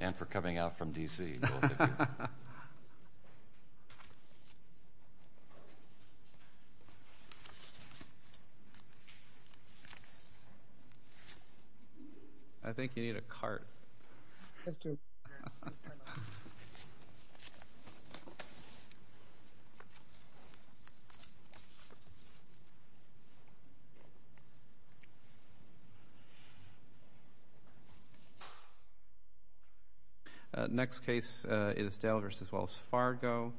And for coming out from D.C., both of you. I think you need a cart. Thank you. Next case is Dale v. Wells Fargo.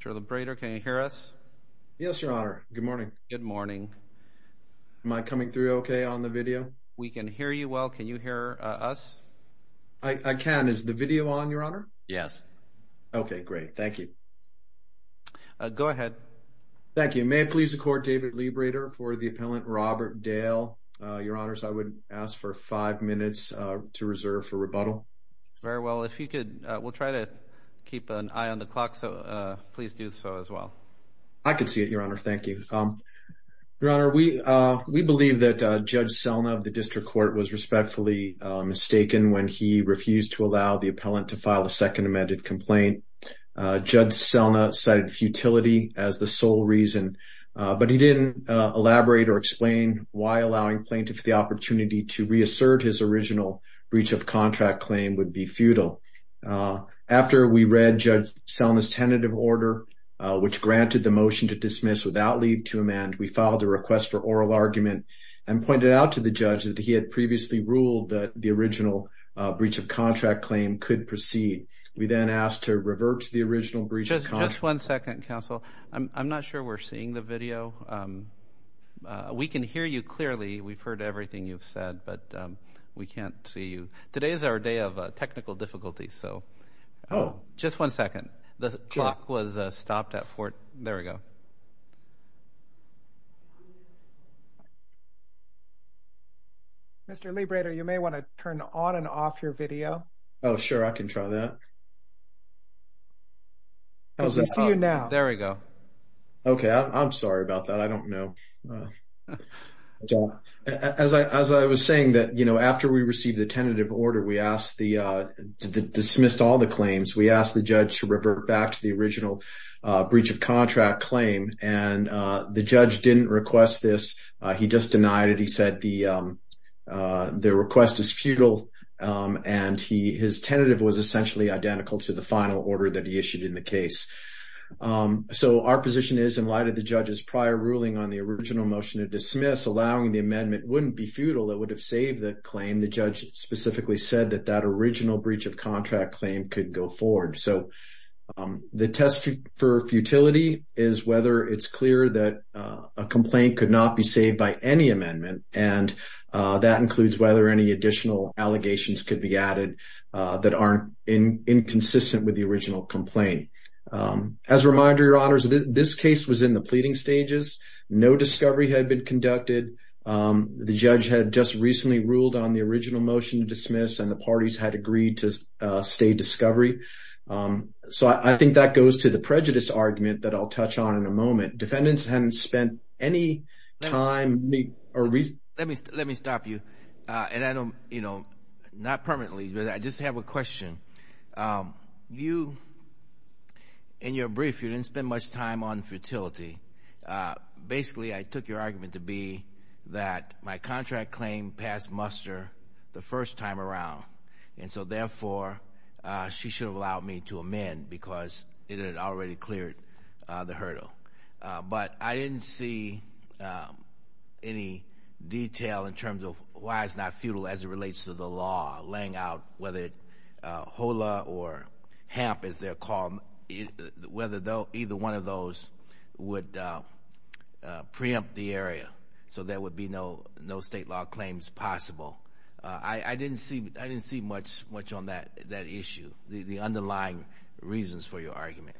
Mr. Labrador, can you hear us? Yes, Your Honor. Good morning. Good morning. Am I coming through okay on the video? We can hear you well. Can you hear us? I can. Is the video on, Your Honor? Yes. Okay, great. Thank you. Go ahead. Thank you. May it please the Court, David Liebreder for the appellant Robert Dale. Your Honors, I would ask for five minutes to reserve for rebuttal. Very well. If you could, we'll try to keep an eye on the clock, so please do so as well. I can see it, Your Honor. Thank you. Your Honor, we believe that Judge Selna of the District Court was respectfully mistaken when he refused to allow the appellant to file a second amended complaint. Judge Selna cited futility as the sole reason, but he didn't elaborate or explain why allowing plaintiff the opportunity to reassert his original breach of contract claim would be futile. After we read Judge Selna's tentative order, which granted the motion to dismiss without leave to amend, we filed a request for oral argument and pointed out to the judge that he had previously ruled that the original breach of contract claim could proceed. We then asked to revert to the original breach of contract. Just one second, counsel. I'm not sure we're seeing the video. We can hear you clearly. We've heard everything you've said, but we can't see you. Today is our day of technical difficulties, so just one second. The clock was stopped at 4. There we go. Mr. Libredo, you may want to turn on and off your video. Oh, sure. I can try that. I can see you now. There we go. Okay. I'm sorry about that. I don't know. As I was saying, after we received the tentative order, we dismissed all the claims. We asked the judge to revert back to the original breach of contract claim, and the judge didn't request this. He just denied it. He said the request is futile, and his tentative was essentially identical to the final order that he issued in the case. So our position is, in light of the judge's prior ruling on the original motion to dismiss, allowing the amendment wouldn't be futile. It would have saved the claim. The judge specifically said that that original breach of contract claim could go forward. So the test for futility is whether it's clear that a complaint could not be saved by any amendment, and that includes whether any additional allegations could be added that aren't inconsistent with the original complaint. As a reminder, Your Honors, this case was in the pleading stages. No discovery had been conducted. The judge had just recently ruled on the original motion to dismiss, and the parties had agreed to stay discovery. So I think that goes to the prejudice argument that I'll touch on in a moment. The defendants hadn't spent any time. Let me stop you. And I don't, you know, not permanently, but I just have a question. You, in your brief, you didn't spend much time on futility. Basically, I took your argument to be that my contract claim passed muster the first time around, and so therefore she should have allowed me to amend because it had already cleared the hurdle. But I didn't see any detail in terms of why it's not futile as it relates to the law laying out whether HOLA or HAMP, as they're called, whether either one of those would preempt the area so there would be no state law claims possible. I didn't see much on that issue, the underlying reasons for your argument.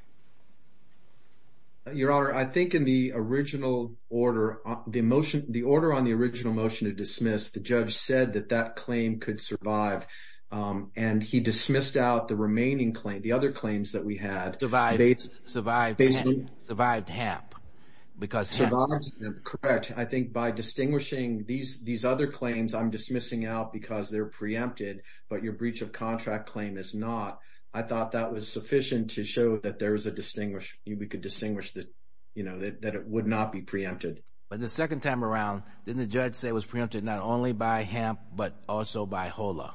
Your Honor, I think in the original order, the order on the original motion to dismiss, the judge said that that claim could survive, and he dismissed out the remaining claim, the other claims that we had. Survived HAMP because HAMP. Correct. I think by distinguishing these other claims, I'm dismissing out because they're preempted, but your breach of contract claim is not. I thought that was sufficient to show that there is a distinguish, we could distinguish that it would not be preempted. But the second time around, didn't the judge say it was preempted not only by HAMP but also by HOLA?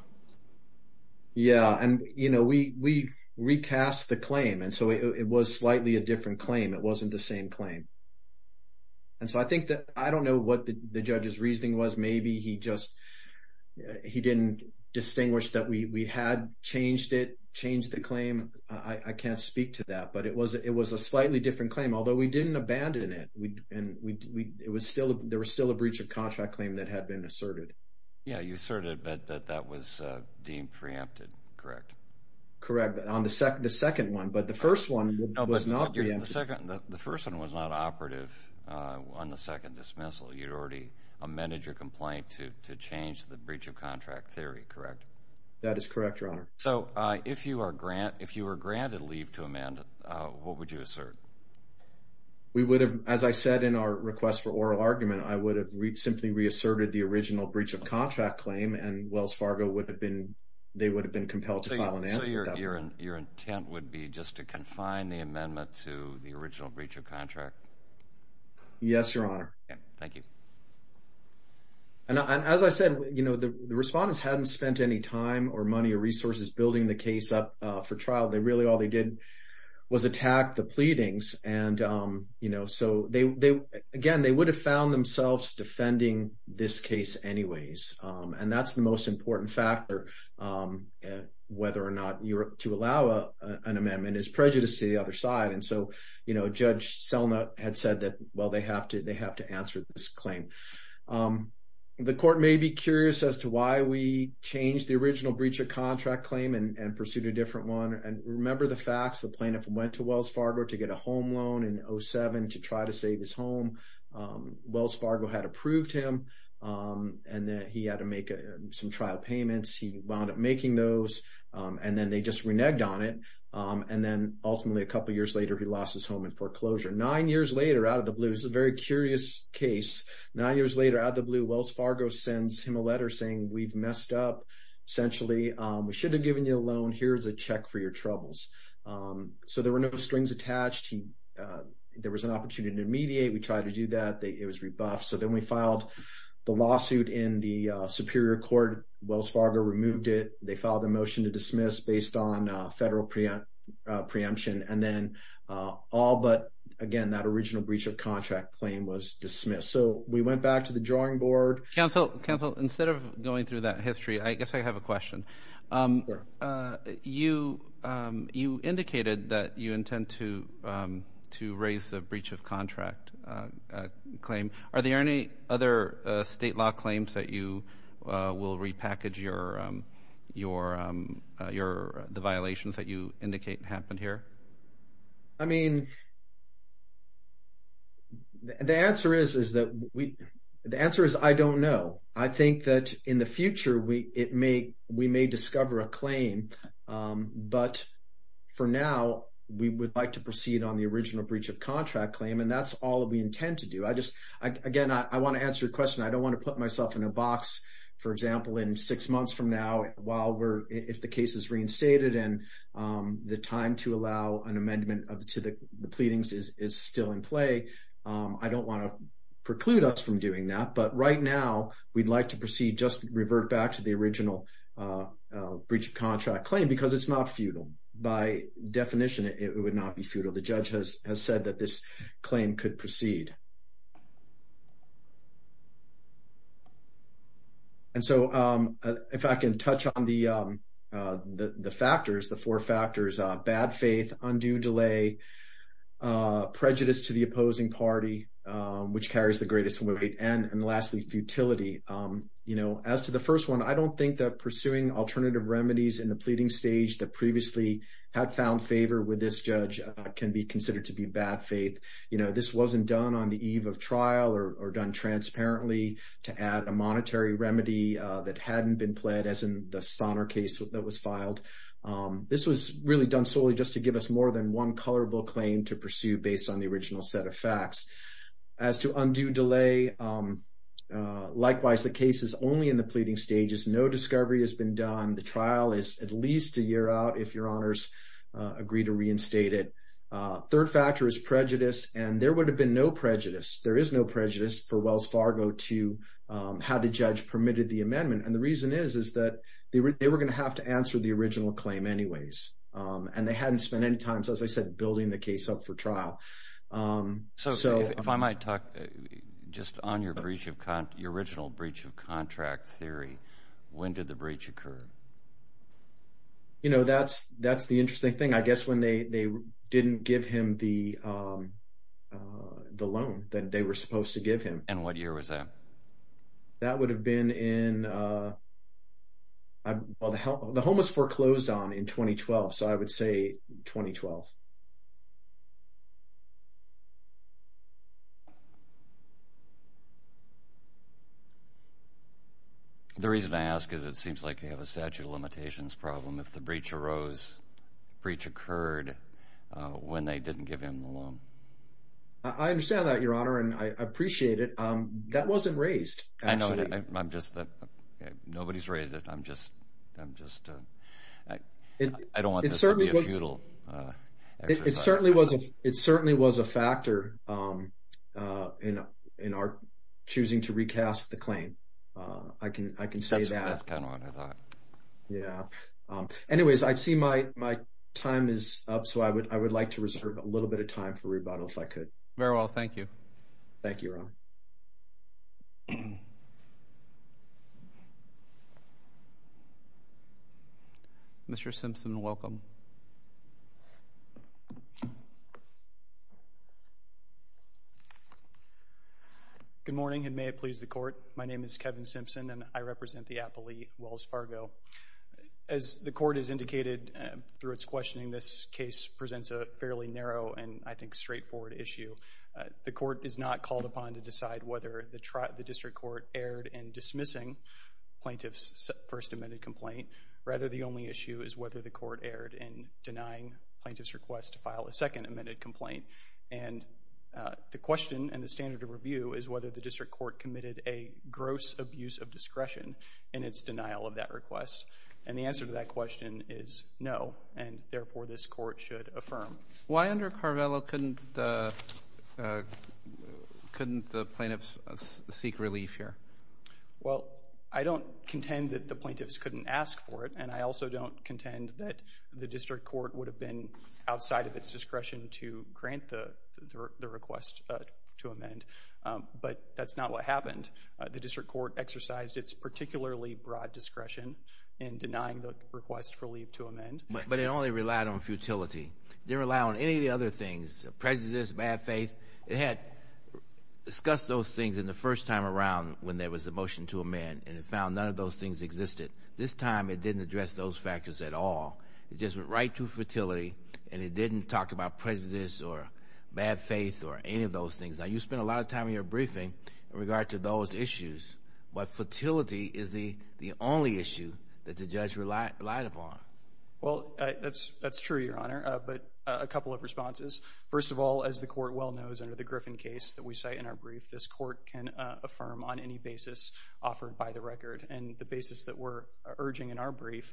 Yeah, and we recast the claim, and so it was slightly a different claim. It wasn't the same claim. And so I think that I don't know what the judge's reasoning was. Maybe he just didn't distinguish that we had changed it, changed the claim. I can't speak to that, but it was a slightly different claim, although we didn't abandon it. There was still a breach of contract claim that had been asserted. Yeah, you asserted that that was deemed preempted, correct? Correct, on the second one, but the first one was not preempted. The first one was not operative on the second dismissal. You'd already amended your complaint to change the breach of contract theory, correct? That is correct, Your Honor. So if you were granted leave to amend it, what would you assert? We would have, as I said in our request for oral argument, I would have simply reasserted the original breach of contract claim, and Wells Fargo would have been compelled to file an amendment. So your intent would be just to confine the amendment to the original breach of contract? Yes, Your Honor. Okay, thank you. And as I said, the respondents hadn't spent any time or money or resources building the case up for trial. Really all they did was attack the pleadings. And, you know, so again, they would have found themselves defending this case anyways. And that's the most important factor, whether or not to allow an amendment is prejudice to the other side. And so, you know, Judge Selna had said that, well, they have to answer this claim. The court may be curious as to why we changed the original breach of contract claim and pursued a different one. And remember the facts. The plaintiff went to Wells Fargo to get a home loan in 2007 to try to save his home. Wells Fargo had approved him, and he had to make some trial payments. He wound up making those, and then they just reneged on it. And then, ultimately, a couple years later, he lost his home in foreclosure. Nine years later, out of the blue, this is a very curious case. Nine years later, out of the blue, Wells Fargo sends him a letter saying, we've messed up, essentially. We should have given you a loan. Here's a check for your troubles. So there were no strings attached. There was an opportunity to mediate. We tried to do that. It was rebuffed. So then we filed the lawsuit in the Superior Court. Wells Fargo removed it. They filed a motion to dismiss based on federal preemption. And then all but, again, that original breach of contract claim was dismissed. So we went back to the drawing board. Counsel, instead of going through that history, I guess I have a question. You indicated that you intend to raise the breach of contract claim. Are there any other state law claims that you will repackage the violations that you indicate happened here? I mean, the answer is I don't know. I think that in the future we may discover a claim, but for now we would like to proceed on the original breach of contract claim, and that's all we intend to do. Again, I want to answer your question. I don't want to put myself in a box, for example, in six months from now, while if the case is reinstated and the time to allow an amendment to the pleadings is still in play. I don't want to preclude us from doing that. But right now we'd like to proceed, just revert back to the original breach of contract claim because it's not futile. By definition, it would not be futile. The judge has said that this claim could proceed. And so if I can touch on the factors, the four factors, bad faith, undue delay, prejudice to the opposing party, which carries the greatest weight, and lastly, futility. As to the first one, I don't think that pursuing alternative remedies in the pleading stage that previously had found favor with this judge can be considered to be bad faith. This wasn't done on the eve of trial or done transparently to add a monetary remedy that hadn't been pled as in the Sonner case that was filed. This was really done solely just to give us more than one colorable claim to pursue based on the original set of facts. As to undue delay, likewise, the case is only in the pleading stages. No discovery has been done. The trial is at least a year out if your honors agree to reinstate it. Third factor is prejudice, and there would have been no prejudice. There is no prejudice for Wells Fargo to how the judge permitted the amendment, and the reason is that they were going to have to answer the original claim anyways, and they hadn't spent any time, as I said, building the case up for trial. So if I might talk just on your original breach of contract theory, when did the breach occur? You know, that's the interesting thing. I guess when they didn't give him the loan that they were supposed to give him. And what year was that? That would have been in, well, the home was foreclosed on in 2012, so I would say 2012. The reason I ask is it seems like you have a statute of limitations problem. If the breach arose, the breach occurred when they didn't give him the loan. I understand that, your honor, and I appreciate it. That wasn't raised, actually. I know. Nobody's raised it. I don't want this to be a futile exercise. It certainly was a factor in our choosing to recast the claim. I can say that. That's kind of what I thought. Yeah. Anyways, I see my time is up, so I would like to reserve a little bit of time for rebuttal if I could. Very well. Thank you. Thank you, your honor. Mr. Simpson, welcome. Good morning, and may it please the Court. My name is Kevin Simpson, and I represent the appellee, Wells Fargo. As the Court has indicated through its questioning, this case presents a fairly narrow and, I think, straightforward issue. The Court is not called upon to decide whether the district court erred in dismissing plaintiff's first amended complaint. Rather, the only issue is whether the court erred in denying plaintiff's request to file a second amended complaint. And the question and the standard of review is whether the district court committed a gross abuse of discretion in its denial of that request. And the answer to that question is no, and, therefore, this Court should affirm. Why under Carvello couldn't the plaintiffs seek relief here? Well, I don't contend that the plaintiffs couldn't ask for it, and I also don't contend that the district court would have been outside of its discretion to grant the request to amend. But that's not what happened. The district court exercised its particularly broad discretion in denying the request for relief to amend. But it only relied on futility. It didn't rely on any of the other things, prejudice, bad faith. It had discussed those things in the first time around when there was a motion to amend, and it found none of those things existed. This time it didn't address those factors at all. It just went right to futility, and it didn't talk about prejudice or bad faith or any of those things. Now, you spent a lot of time in your briefing in regard to those issues, but futility is the only issue that the judge relied upon. Well, that's true, Your Honor, but a couple of responses. First of all, as the Court well knows under the Griffin case that we cite in our brief, this court can affirm on any basis offered by the record. And the basis that we're urging in our brief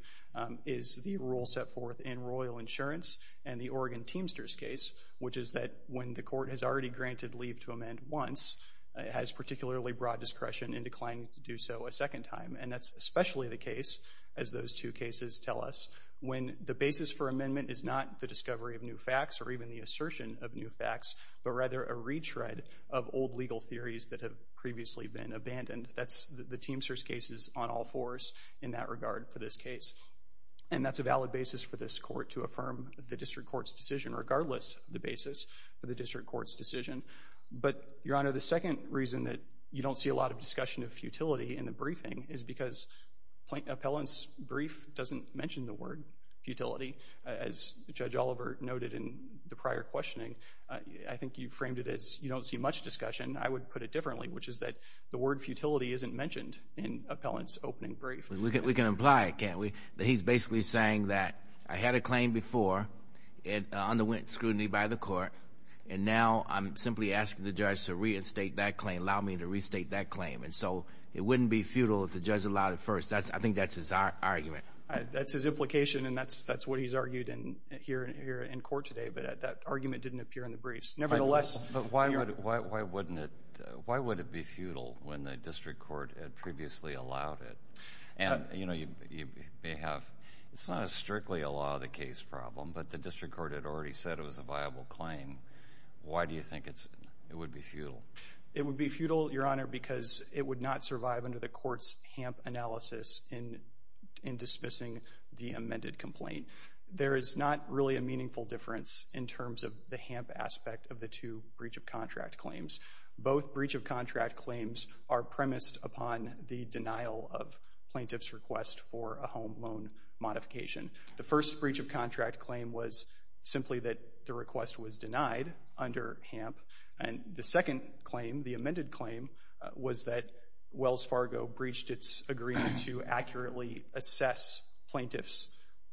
is the rule set forth in Royal Insurance and the Oregon Teamsters case, which is that when the court has already granted leave to amend once, it has particularly broad discretion in declining to do so a second time. And that's especially the case, as those two cases tell us, when the basis for amendment is not the discovery of new facts or even the assertion of new facts, but rather a retread of old legal theories that have previously been abandoned. The Teamsters case is on all fours in that regard for this case. And that's a valid basis for this court to affirm the district court's decision, regardless of the basis for the district court's decision. But, Your Honor, the second reason that you don't see a lot of discussion of futility in the briefing is because Appellant's brief doesn't mention the word futility. As Judge Oliver noted in the prior questioning, I think you framed it as you don't see much discussion. I would put it differently, which is that the word futility isn't mentioned in Appellant's opening brief. We can imply it, can't we? He's basically saying that I had a claim before, it underwent scrutiny by the court, and now I'm simply asking the judge to reinstate that claim, allow me to restate that claim. And so it wouldn't be futile if the judge allowed it first. I think that's his argument. That's his implication, and that's what he's argued here in court today, but that argument didn't appear in the briefs. Nevertheless. But why would it be futile when the district court had previously allowed it? And, you know, it's not strictly a law of the case problem, but the district court had already said it was a viable claim. Why do you think it would be futile? It would be futile, Your Honor, because it would not survive under the court's HAMP analysis in dismissing the amended complaint. There is not really a meaningful difference in terms of the HAMP aspect of the two breach of contract claims. Both breach of contract claims are premised upon the denial of plaintiff's request for a home loan modification. The first breach of contract claim was simply that the request was denied under HAMP, and the second claim, the amended claim, was that Wells Fargo breached its agreement to accurately assess plaintiff's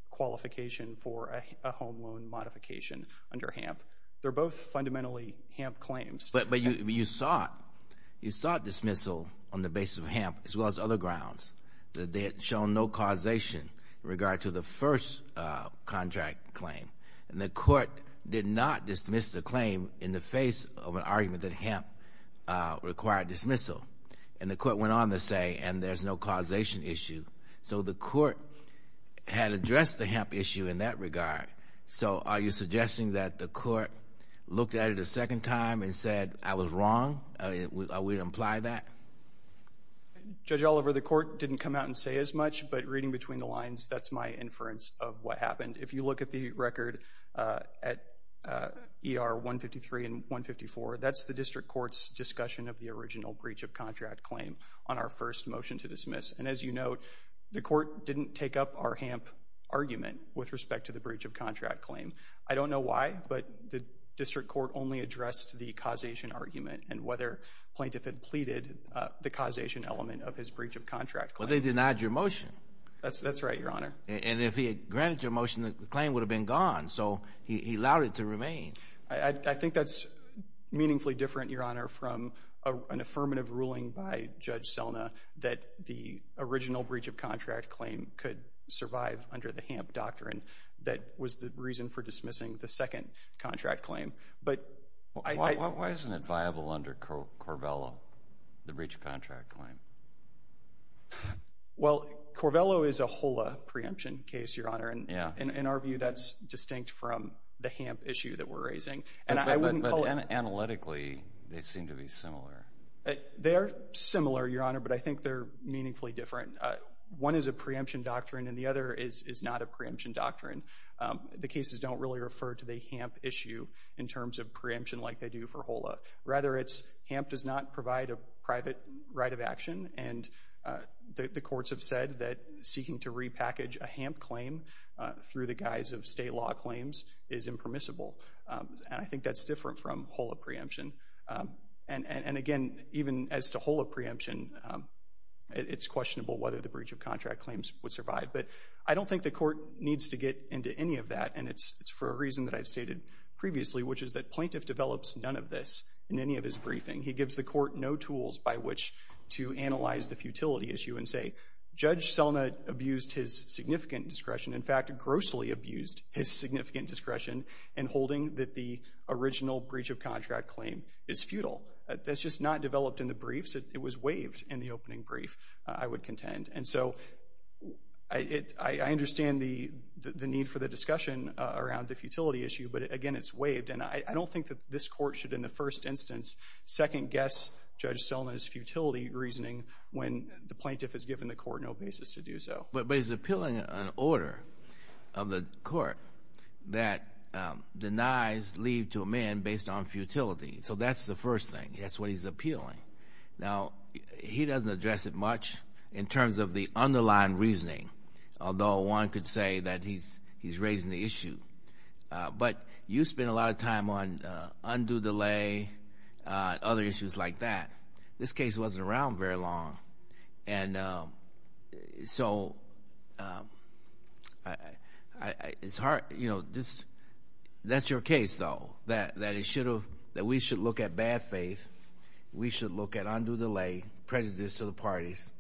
qualification for a home loan modification under HAMP. They're both fundamentally HAMP claims. But you sought dismissal on the basis of HAMP as well as other grounds. They had shown no causation in regard to the first contract claim, and the court did not dismiss the claim in the face of an argument that HAMP required dismissal. And the court went on to say, and there's no causation issue. So the court had addressed the HAMP issue in that regard. So are you suggesting that the court looked at it a second time and said, I was wrong? Are we to imply that? Judge Oliver, the court didn't come out and say as much, but reading between the lines, that's my inference of what happened. If you look at the record at ER 153 and 154, that's the district court's discussion of the original breach of contract claim on our first motion to dismiss. And as you note, the court didn't take up our HAMP argument with respect to the breach of contract claim. I don't know why, but the district court only addressed the causation argument and whether plaintiff had pleaded the causation element of his breach of contract claim. But they denied your motion. That's right, Your Honor. And if he had granted your motion, the claim would have been gone. So he allowed it to remain. I think that's meaningfully different, Your Honor, from an affirmative ruling by Judge Selna that the original breach of contract claim could survive under the HAMP doctrine that was the reason for dismissing the second contract claim. Why isn't it viable under Corvello, the breach of contract claim? Well, Corvello is a HOLA preemption case, Your Honor. In our view, that's distinct from the HAMP issue that we're raising. But analytically, they seem to be similar. They are similar, Your Honor, but I think they're meaningfully different. One is a preemption doctrine and the other is not a preemption doctrine. The cases don't really refer to the HAMP issue in terms of preemption like they do for HOLA. Rather, it's HAMP does not provide a private right of action, and the courts have said that seeking to repackage a HAMP claim through the guise of state law claims is impermissible. And I think that's different from HOLA preemption. And again, even as to HOLA preemption, it's questionable whether the breach of contract claims would survive. But I don't think the court needs to get into any of that, and it's for a reason that I've stated previously, which is that plaintiff develops none of this in any of his briefing. He gives the court no tools by which to analyze the futility issue and say, Judge Selna abused his significant discretion, in fact, grossly abused his significant discretion in holding that the original breach of contract claim is futile. That's just not developed in the briefs. It was waived in the opening brief, I would contend. And so I understand the need for the discussion around the futility issue, but, again, it's waived. And I don't think that this court should, in the first instance, second-guess Judge Selna's futility reasoning when the plaintiff has given the court no basis to do so. But he's appealing an order of the court that denies leave to a man based on futility. So that's the first thing. That's what he's appealing. Now, he doesn't address it much in terms of the underlying reasoning, although one could say that he's raising the issue. But you spend a lot of time on undue delay and other issues like that. This case wasn't around very long. And so it's hard. That's your case, though, that we should look at bad faith, we should look at undue delay, prejudice to the parties,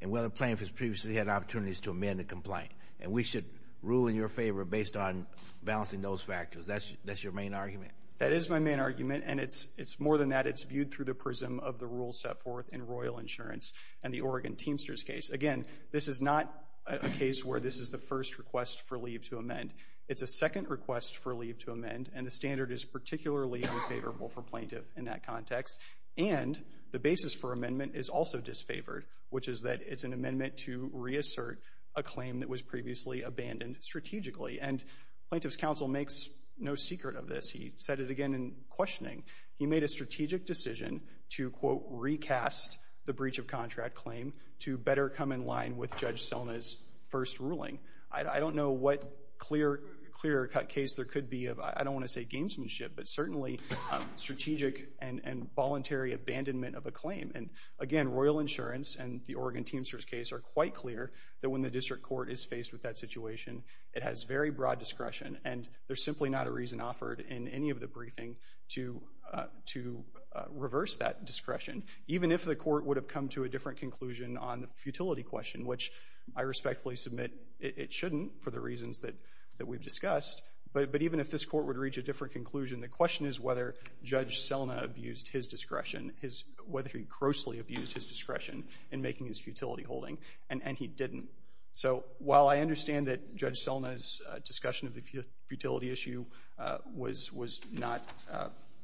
and whether plaintiffs previously had opportunities to amend the complaint. And we should rule in your favor based on balancing those factors. That's your main argument? That is my main argument, and it's more than that. It's viewed through the prism of the rules set forth in Royal Insurance and the Oregon Teamsters case. Again, this is not a case where this is the first request for leave to amend. It's a second request for leave to amend, and the standard is particularly unfavorable for plaintiff in that context. And the basis for amendment is also disfavored, which is that it's an amendment to reassert a claim that was previously abandoned strategically. And Plaintiff's Counsel makes no secret of this. He said it again in questioning. He made a strategic decision to, quote, recast the breach of contract claim to better come in line with Judge Sona's first ruling. I don't know what clear cut case there could be of, I don't want to say gamesmanship, but certainly strategic and voluntary abandonment of a claim. And again, Royal Insurance and the Oregon Teamsters case are quite clear that when the district court is faced with that situation, it has very broad discretion, and there's simply not a reason offered in any of the briefing to reverse that discretion, even if the court would have come to a different conclusion on the futility question, which I respectfully submit it shouldn't for the reasons that we've discussed. But even if this court would reach a different conclusion, the question is whether Judge Sona abused his discretion, whether he grossly abused his discretion in making his futility holding, and he didn't. So while I understand that Judge Sona's discussion of the futility issue was not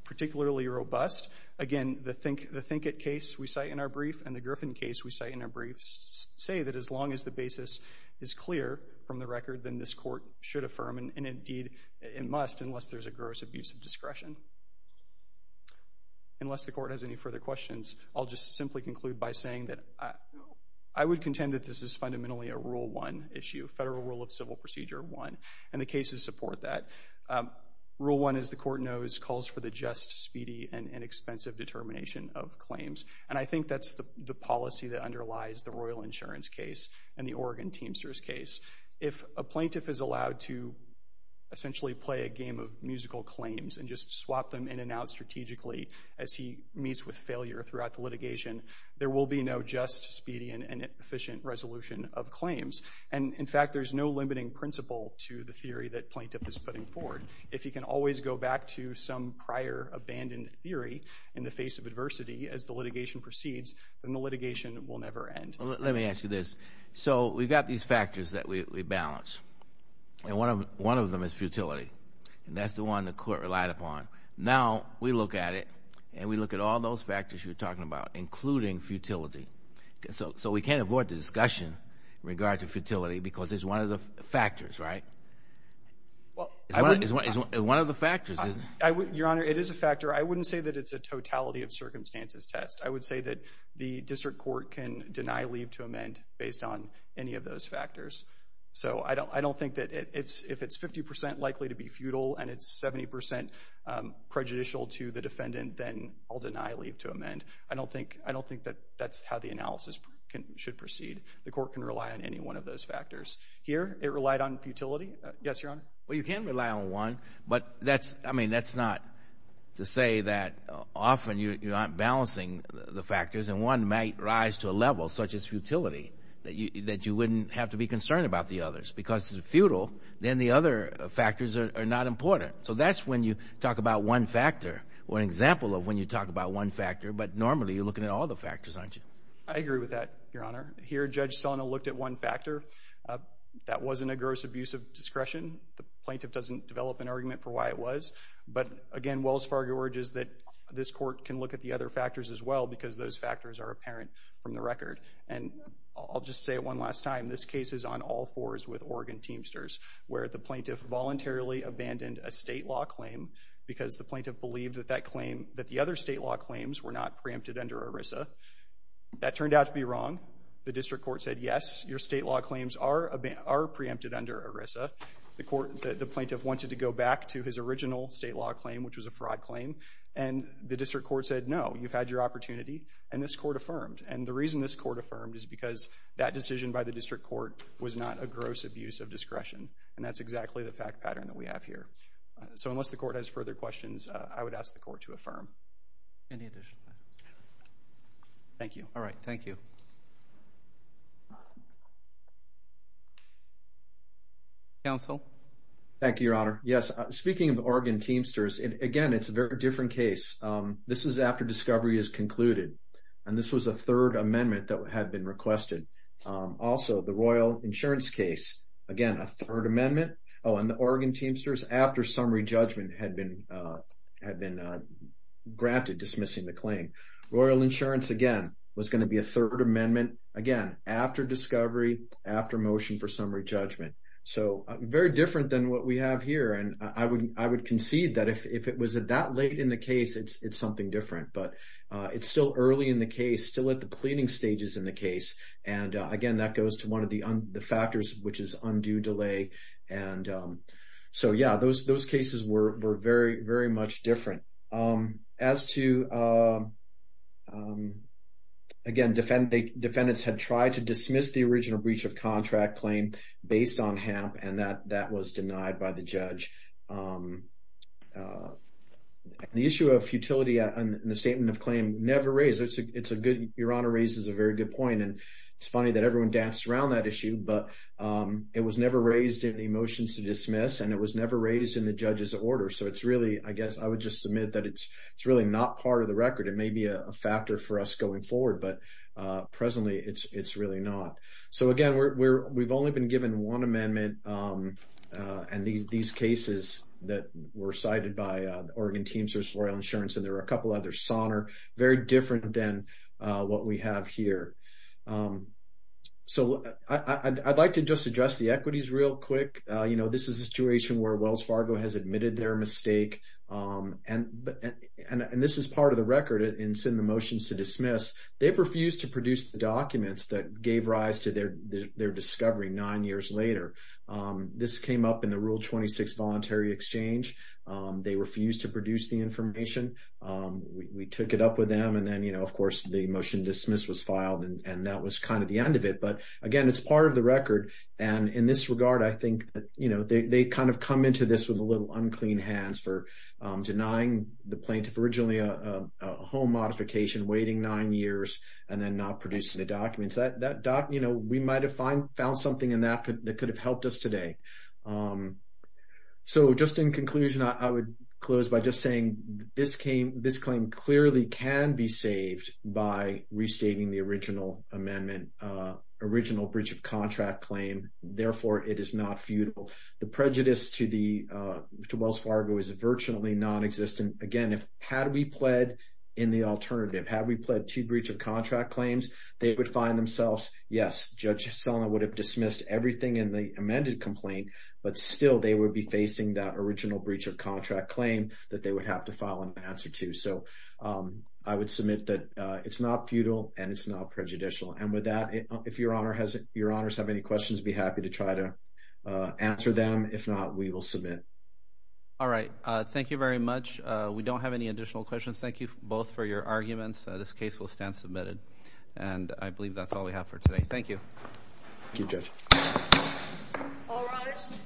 particularly robust, again, the Thinkit case we cite in our brief and the Griffin case we cite in our brief say that as long as the basis is clear from the record, then this court should affirm, and indeed it must unless there's a gross abuse of discretion, unless the court has any further questions, I'll just simply conclude by saying that I would contend that this is fundamentally a Rule 1 issue, Federal Rule of Civil Procedure 1, and the cases support that. Rule 1, as the court knows, calls for the just, speedy, and inexpensive determination of claims, and I think that's the policy that underlies the Royal Insurance case and the Oregon Teamsters case. If a plaintiff is allowed to essentially play a game of musical claims and just swap them in and out strategically as he meets with failure throughout the litigation, there will be no just, speedy, and efficient resolution of claims. And, in fact, there's no limiting principle to the theory that plaintiff is putting forward. If he can always go back to some prior abandoned theory in the face of adversity as the litigation proceeds, then the litigation will never end. Let me ask you this. So we've got these factors that we balance, and one of them is futility, and that's the one the court relied upon. Now we look at it, and we look at all those factors you were talking about, including futility. So we can't avoid the discussion in regard to futility because it's one of the factors, right? It's one of the factors, isn't it? Your Honor, it is a factor. I wouldn't say that it's a totality of circumstances test. I would say that the district court can deny leave to amend based on any of those factors. So I don't think that if it's 50 percent likely to be futile and it's 70 percent prejudicial to the defendant, then I'll deny leave to amend. I don't think that that's how the analysis should proceed. The court can rely on any one of those factors. Here it relied on futility. Yes, Your Honor? Well, you can rely on one, but that's not to say that often you're not balancing the factors and one might rise to a level, such as futility, that you wouldn't have to be concerned about the others. Because if it's futile, then the other factors are not important. So that's when you talk about one factor or an example of when you talk about one factor, but normally you're looking at all the factors, aren't you? I agree with that, Your Honor. Here Judge Sona looked at one factor. That wasn't a gross abuse of discretion. The plaintiff doesn't develop an argument for why it was. But, again, Wells Fargo urges that this court can look at the other factors as well because those factors are apparent from the record. And I'll just say it one last time. This case is on all fours with Oregon Teamsters, where the plaintiff voluntarily abandoned a state law claim because the plaintiff believed that the other state law claims were not preempted under ERISA. That turned out to be wrong. The district court said, yes, your state law claims are preempted under ERISA. The plaintiff wanted to go back to his original state law claim, which was a fraud claim, and the district court said, no, you've had your opportunity, and this court affirmed. And the reason this court affirmed is because that decision by the district court was not a gross abuse of discretion, and that's exactly the fact pattern that we have here. So unless the court has further questions, I would ask the court to affirm. Any additional questions? Thank you. All right, thank you. Thank you. Counsel? Thank you, Your Honor. Yes, speaking of Oregon Teamsters, again, it's a very different case. This is after discovery is concluded, and this was a third amendment that had been requested. Also, the Royal Insurance case, again, a third amendment. Oh, and the Oregon Teamsters, after summary judgment, had been granted dismissing the claim. Royal Insurance, again, was going to be a third amendment, again, after discovery, after motion for summary judgment. So very different than what we have here, and I would concede that if it was that late in the case, it's something different. But it's still early in the case, still at the cleaning stages in the case, and, again, that goes to one of the factors, which is undue delay. So, yeah, those cases were very, very much different. As to, again, defendants had tried to dismiss the original breach of contract claim based on HAMP, and that was denied by the judge. The issue of futility in the statement of claim never raised. Your Honor raises a very good point, and it's funny that everyone danced around that issue, but it was never raised in the motions to dismiss, and it was never raised in the judge's order. So it's really, I guess I would just submit that it's really not part of the record. It may be a factor for us going forward, but presently it's really not. So, again, we've only been given one amendment, and these cases that were cited by Oregon Teamsters, Royal Insurance, and there were a couple others, SONR, very different than what we have here. So I'd like to just address the equities real quick. You know, this is a situation where Wells Fargo has admitted their mistake, and this is part of the record in sending the motions to dismiss. They've refused to produce the documents that gave rise to their discovery nine years later. This came up in the Rule 26 Voluntary Exchange. They refused to produce the information. We took it up with them, and then, you know, of course, the motion to dismiss was filed, and that was kind of the end of it. But, again, it's part of the record. And in this regard, I think, you know, they kind of come into this with a little unclean hands for denying the plaintiff originally a home modification, waiting nine years, and then not producing the documents. You know, we might have found something in that that could have helped us today. So just in conclusion, I would close by just saying this claim clearly can be saved by restating the original amendment, original breach of contract claim. Therefore, it is not futile. The prejudice to Wells Fargo is virtually nonexistent. Again, had we pled in the alternative, had we pled to breach of contract claims, they would find themselves, yes, Judge Selna would have dismissed everything in the amended complaint, but still they would be facing that original breach of contract claim that they would have to file an answer to. So I would submit that it's not futile and it's not prejudicial. And with that, if Your Honors have any questions, I'd be happy to try to answer them. If not, we will submit. All right. Thank you very much. We don't have any additional questions. Thank you both for your arguments. This case will stand submitted. And I believe that's all we have for today. Thank you. Thank you, Judge. All rise.